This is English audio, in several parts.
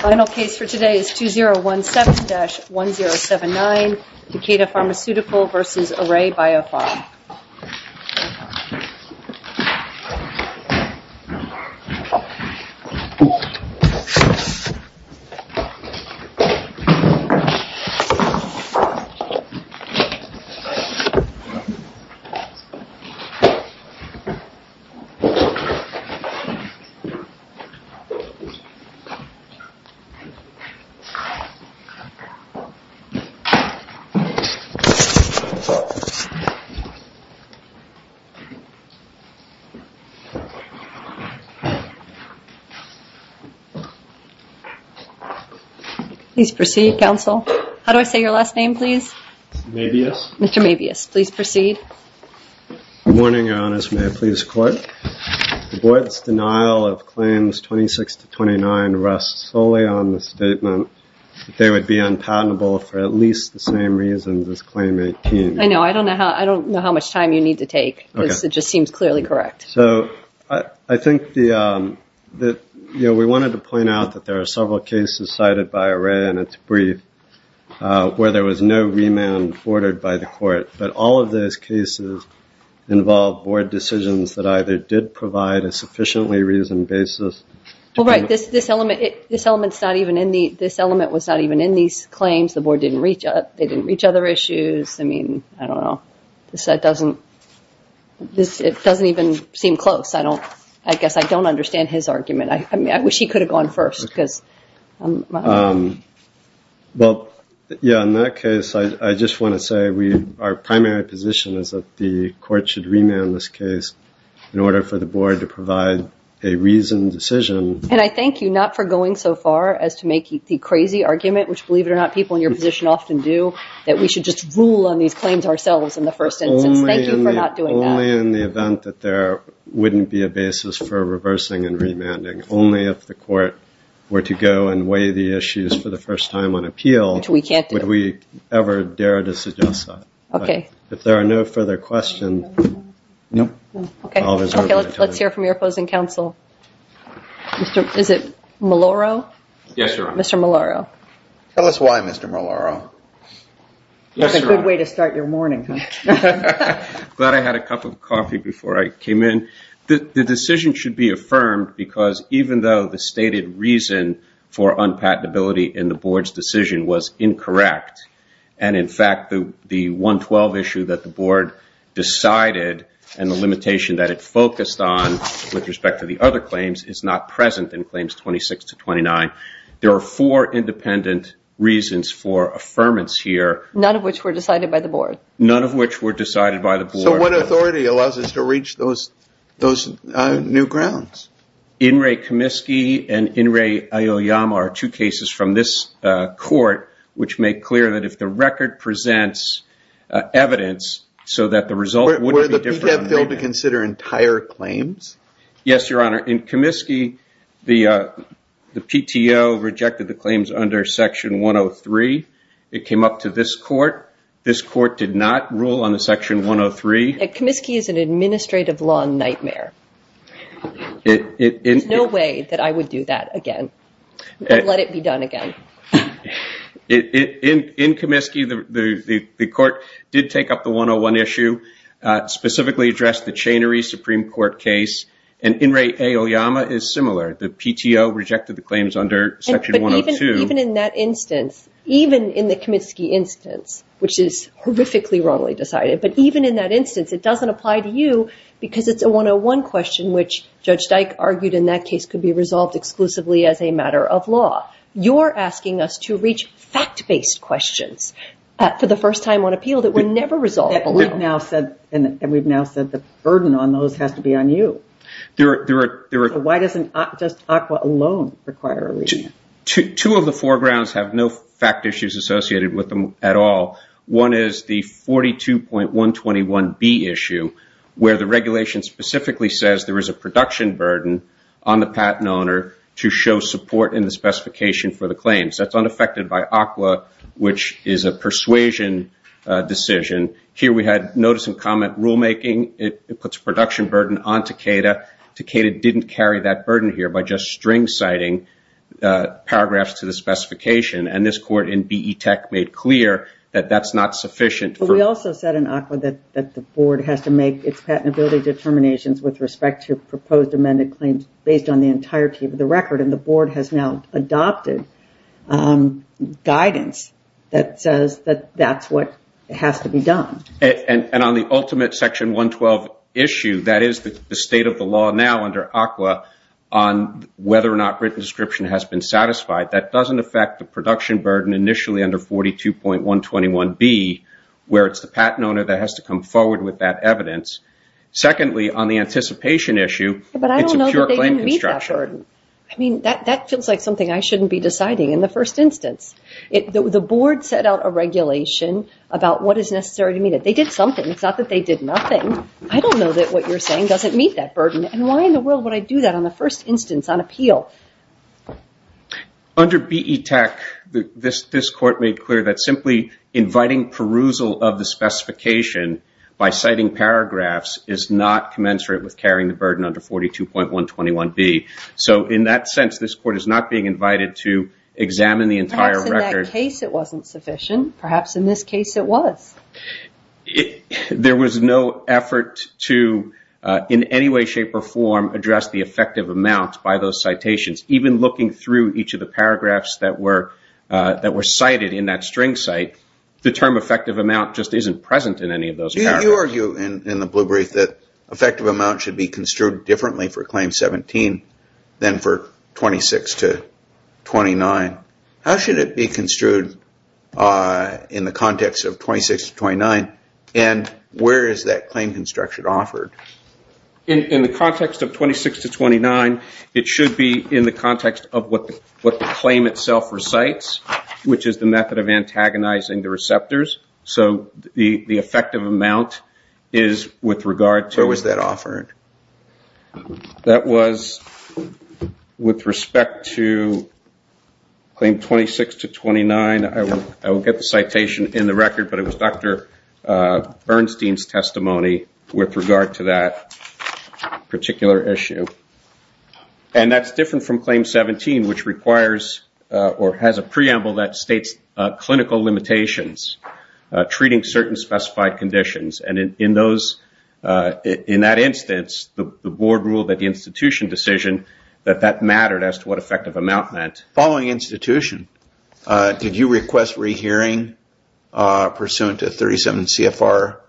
Final case for today is 2017-1079, Takeda Pharmaceutical v. Array BioPharma. Please proceed, Captain. The board's denial of Claims 26-29 rests solely on the statement that they would be unpatentable for at least the same reasons as Claim 18. I know. I don't know how much time you need to take. It just seems clearly correct. So, I think that we wanted to point out that there are several cases cited by Array in its brief where there was no remand ordered by the court, but all of those cases involved board decisions that either did provide a sufficiently reasoned basis... Well, right. This element was not even in these claims. The board didn't reach out. They didn't reach other issues. I mean, I don't know. It doesn't even seem close. I guess I don't understand his argument. I wish he could have gone first. Well, yeah, in that case, I just want to say our primary position is that the court should remand this case in order for the board to provide a reasoned decision. And I thank you not for going so far as to make the crazy argument, which, believe it or not, people in your position often do, that we should just rule on these claims ourselves in the first instance. Thank you for not doing that. Only in the event that there wouldn't be a basis for reversing and remanding. Only if the court were to go and weigh the issues for the first time on appeal... Which we can't do. ...would we ever dare to suggest that. Okay. If there are no further questions... No. Okay. Let's hear from your opposing counsel. Is it Maloro? Yes, Your Honor. Mr. Maloro. Tell us why, Mr. Maloro. That's a good way to start your morning, huh? Glad I had a cup of coffee before I came in. The decision should be affirmed because even though the stated reason for unpatentability in the board's decision was incorrect, and in fact, the 112 issue that the board decided and the limitation that it focused on with not present in claims 26 to 29, there are four independent reasons for affirmance here. None of which were decided by the board. None of which were decided by the board. So what authority allows us to reach those new grounds? In re Comiskey and in re Aoyama are two cases from this court which make clear that if the record presents evidence so that the result wouldn't be different... Were the PTAB billed to consider entire claims? Yes, Your Honor. In Comiskey, the PTO rejected the claims under Section 103. It came up to this court. This court did not rule on the Section 103. Comiskey is an administrative law nightmare. There's no way that I would do that again. I'd let it be done again. In Comiskey, the court did take up the 101 issue. Specifically addressed the chainery Supreme Court case. In re Aoyama is similar. The PTO rejected the claims under Section 102. Even in that instance, even in the Comiskey instance, which is horrifically wrongly decided, but even in that instance, it doesn't apply to you because it's a 101 question which Judge Dyke argued in that case could be resolved exclusively as a matter of law. You're asking us to reach fact-based questions for the first time on appeal that were never resolved. We've now said the burden on those has to be on you. Why doesn't just ACWA alone require a reason? Two of the foregrounds have no fact issues associated with them at all. One is the 42.121B issue where the regulation specifically says there is a production burden on the patent owner to show support in the specification for the claims. That's unaffected by ACWA, which is a persuasion decision. Here we had notice and comment rulemaking. It puts production burden on Takeda. Takeda didn't carry that burden here by just string citing paragraphs to the specification. This court in BETEC made clear that that's not sufficient. We also said in ACWA that the board has to make its patentability determinations with respect to proposed amended claims based on the entirety of the record. The board has now adopted guidance that says that that's what has to be done. On the ultimate section 112 issue, that is the state of the law now under ACWA on whether or not written description has been satisfied, that doesn't affect the production burden initially under 42.121B where it's the patent owner that has to come forward with that evidence. Secondly, on the anticipation issue, it's a pure claim construction. That feels like something I shouldn't be deciding in the first instance. The board set out a regulation about what is necessary to meet it. They did something. It's not that they did nothing. I don't know that what you're saying doesn't meet that burden. Why in the world would I do that on the first instance on appeal? Under BETEC, this court made clear that simply inviting perusal of the specification by citing In that sense, this court is not being invited to examine the entire record. Perhaps in that case it wasn't sufficient. Perhaps in this case it was. There was no effort to in any way, shape, or form address the effective amount by those citations. Even looking through each of the paragraphs that were cited in that string site, the term effective amount just isn't present in any of those paragraphs. You argue in the blue brief that effective amount should be construed differently for Claim 17 than for 26 to 29. How should it be construed in the context of 26 to 29? And where is that claim construction offered? In the context of 26 to 29, it should be in the context of what the claim itself recites, which is the method of antagonizing the receptors. The effective amount is with regard to Where was that offered? That was with respect to Claim 26 to 29. I won't get the citation in the record, but it was Dr. Bernstein's testimony with regard to that particular issue. And that's different from Claim 17, which requires or has a preamble that states clinical limitations, treating certain specified conditions. And in that instance, the Board ruled that the institution decision, that that mattered as to what effective amount meant. Following institution, did you request rehearing pursuant to 37 CFR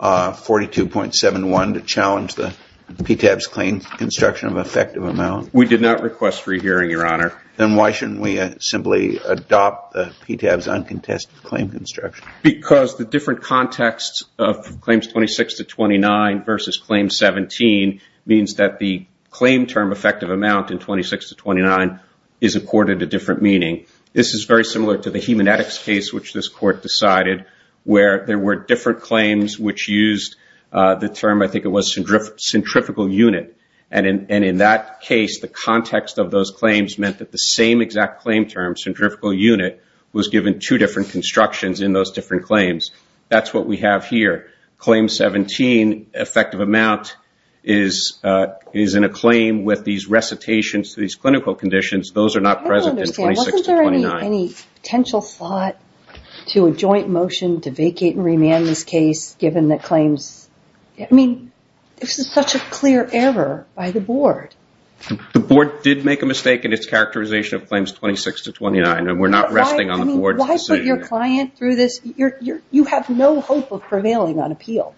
42.71 to challenge the PTAB's claim construction of effective amount? We did not request rehearing, Your Honor. Then why shouldn't we simply adopt the PTAB's uncontested claim construction? Because the different context of Claims 26 to 29 versus Claim 17 means that the claim term effective amount in 26 to 29 is accorded a different meaning. This is very similar to the hemanetics case, which this Court decided, where there were different claims which used the term, I think it was, centrifugal unit. And in that case, the context of those claims meant that the same exact claim term, centrifugal unit, was given two different constructions in those different claims. That's what we have here. Claim 17, effective amount, is in a claim with these recitations to these clinical conditions. Those are not present in 26 to 29. Any potential thought to a joint motion to vacate and remand this case, given the claims? I mean, this is such a clear error by the Board. The Board did make a mistake in its characterization of Claims 26 to 29, and we're not resting on the Board's decision. Why put your client through this? You have no hope of prevailing on appeal.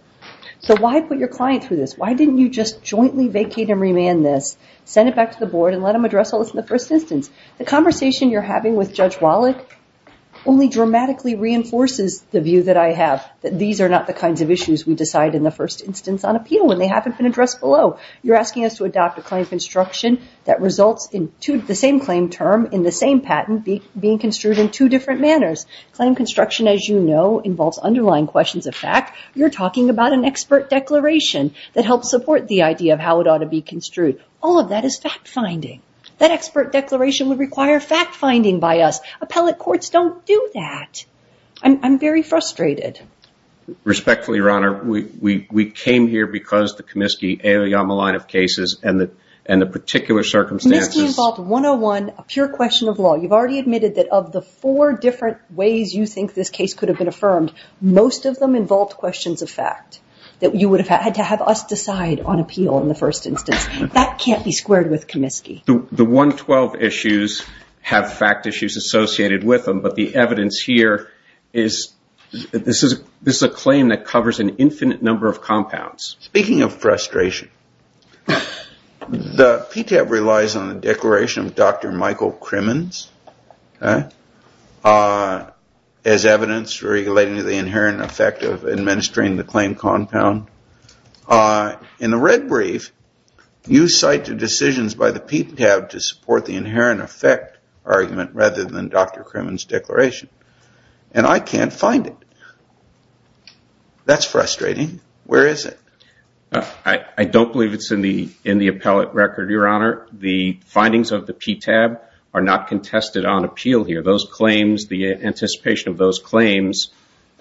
So why put your client through this? Why didn't you just jointly vacate and remand this, send it back to the Board, and let them address all this in the first instance? The conversation you're having with Judge Wallach only dramatically reinforces the view that I have, that these are not the kinds of issues we decide in the first instance on appeal when they haven't been addressed below. You're asking us to adopt a claim construction that results in the same claim term in the same patent being construed in two different manners. Claim construction, as you know, involves underlying questions of fact. You're talking about an expert declaration that helps support the idea of how it ought to be construed. All of that is fact-finding. That expert declaration would require fact-finding by us. Appellate courts don't do that. I'm very frustrated. Respectfully, Your Honor, we came here because the Comiskey-Aoyama line of cases and the particular circumstances- Comiskey involved 101, a pure question of law. You've already admitted that of the four different ways you think this case could have been affirmed, most of them involved questions of fact, that you would have had to have us decide on appeal in the first instance. That can't be squared with Comiskey. The 112 issues have fact issues associated with them, but the evidence here is this is a claim that covers an infinite number of compounds. Speaking of frustration, the PTAB relies on the declaration of Dr. Michael Crimmins as evidence relating to the inherent effect of administering the claim compound. In the red brief, you cite the decisions by the PTAB to support the inherent effect argument rather than Dr. Crimmins' declaration, and I can't find it. That's frustrating. Where is it? I don't believe it's in the appellate record, Your Honor. The findings of the PTAB are not contested on appeal here. The anticipation of those claims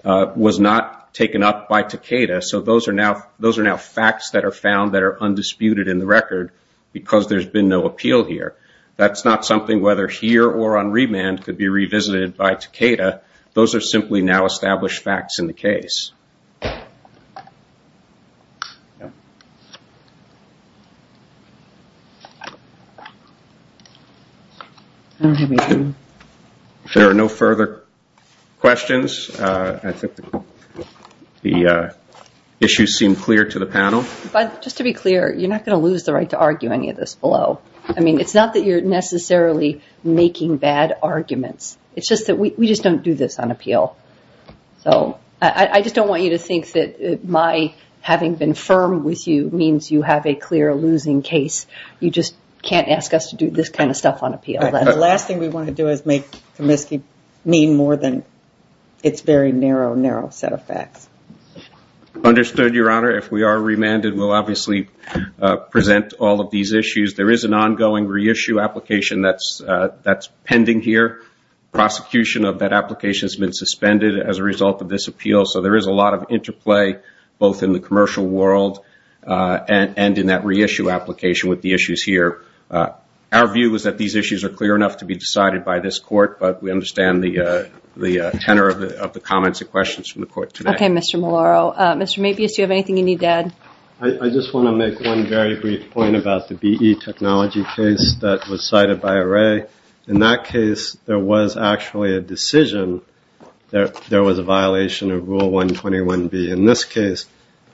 was not taken up by Takeda, so those are now facts that are found that are undisputed in the record because there's been no appeal here. That's not something, whether here or on remand, could be revisited by Takeda. If there are no further questions, I think the issues seem clear to the panel. Just to be clear, you're not going to lose the right to argue any of this below. I mean, it's not that you're necessarily making bad arguments. It's just that we just don't do this on appeal. So I just don't want you to think that my having been firm with you means you have a clear losing case. You just can't ask us to do this kind of stuff on appeal. The last thing we want to do is make Comiskey mean more than its very narrow, narrow set of facts. Understood, Your Honor. If we are remanded, we'll obviously present all of these issues. There is an ongoing reissue application that's pending here. Prosecution of that application has been suspended as a result of this appeal, so there is a lot of interplay both in the commercial world and in that reissue application with the issues here. Our view is that these issues are clear enough to be decided by this court, but we understand the tenor of the comments and questions from the court today. Okay, Mr. Malauulu. Mr. Matthews, do you have anything you need to add? I just want to make one very brief point about the BE technology case that was cited by Array. In that case, there was actually a decision that there was a violation of Rule 121B. In this case,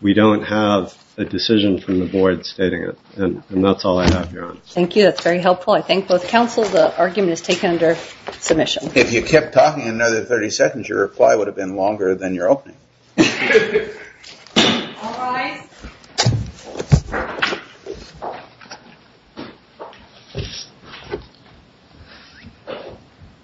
we don't have a decision from the board stating it, and that's all I have, Your Honor. Thank you. That's very helpful. I thank both counsel. The argument is taken under submission. If you kept talking another 30 seconds, your reply would have been longer than your opening. All rise.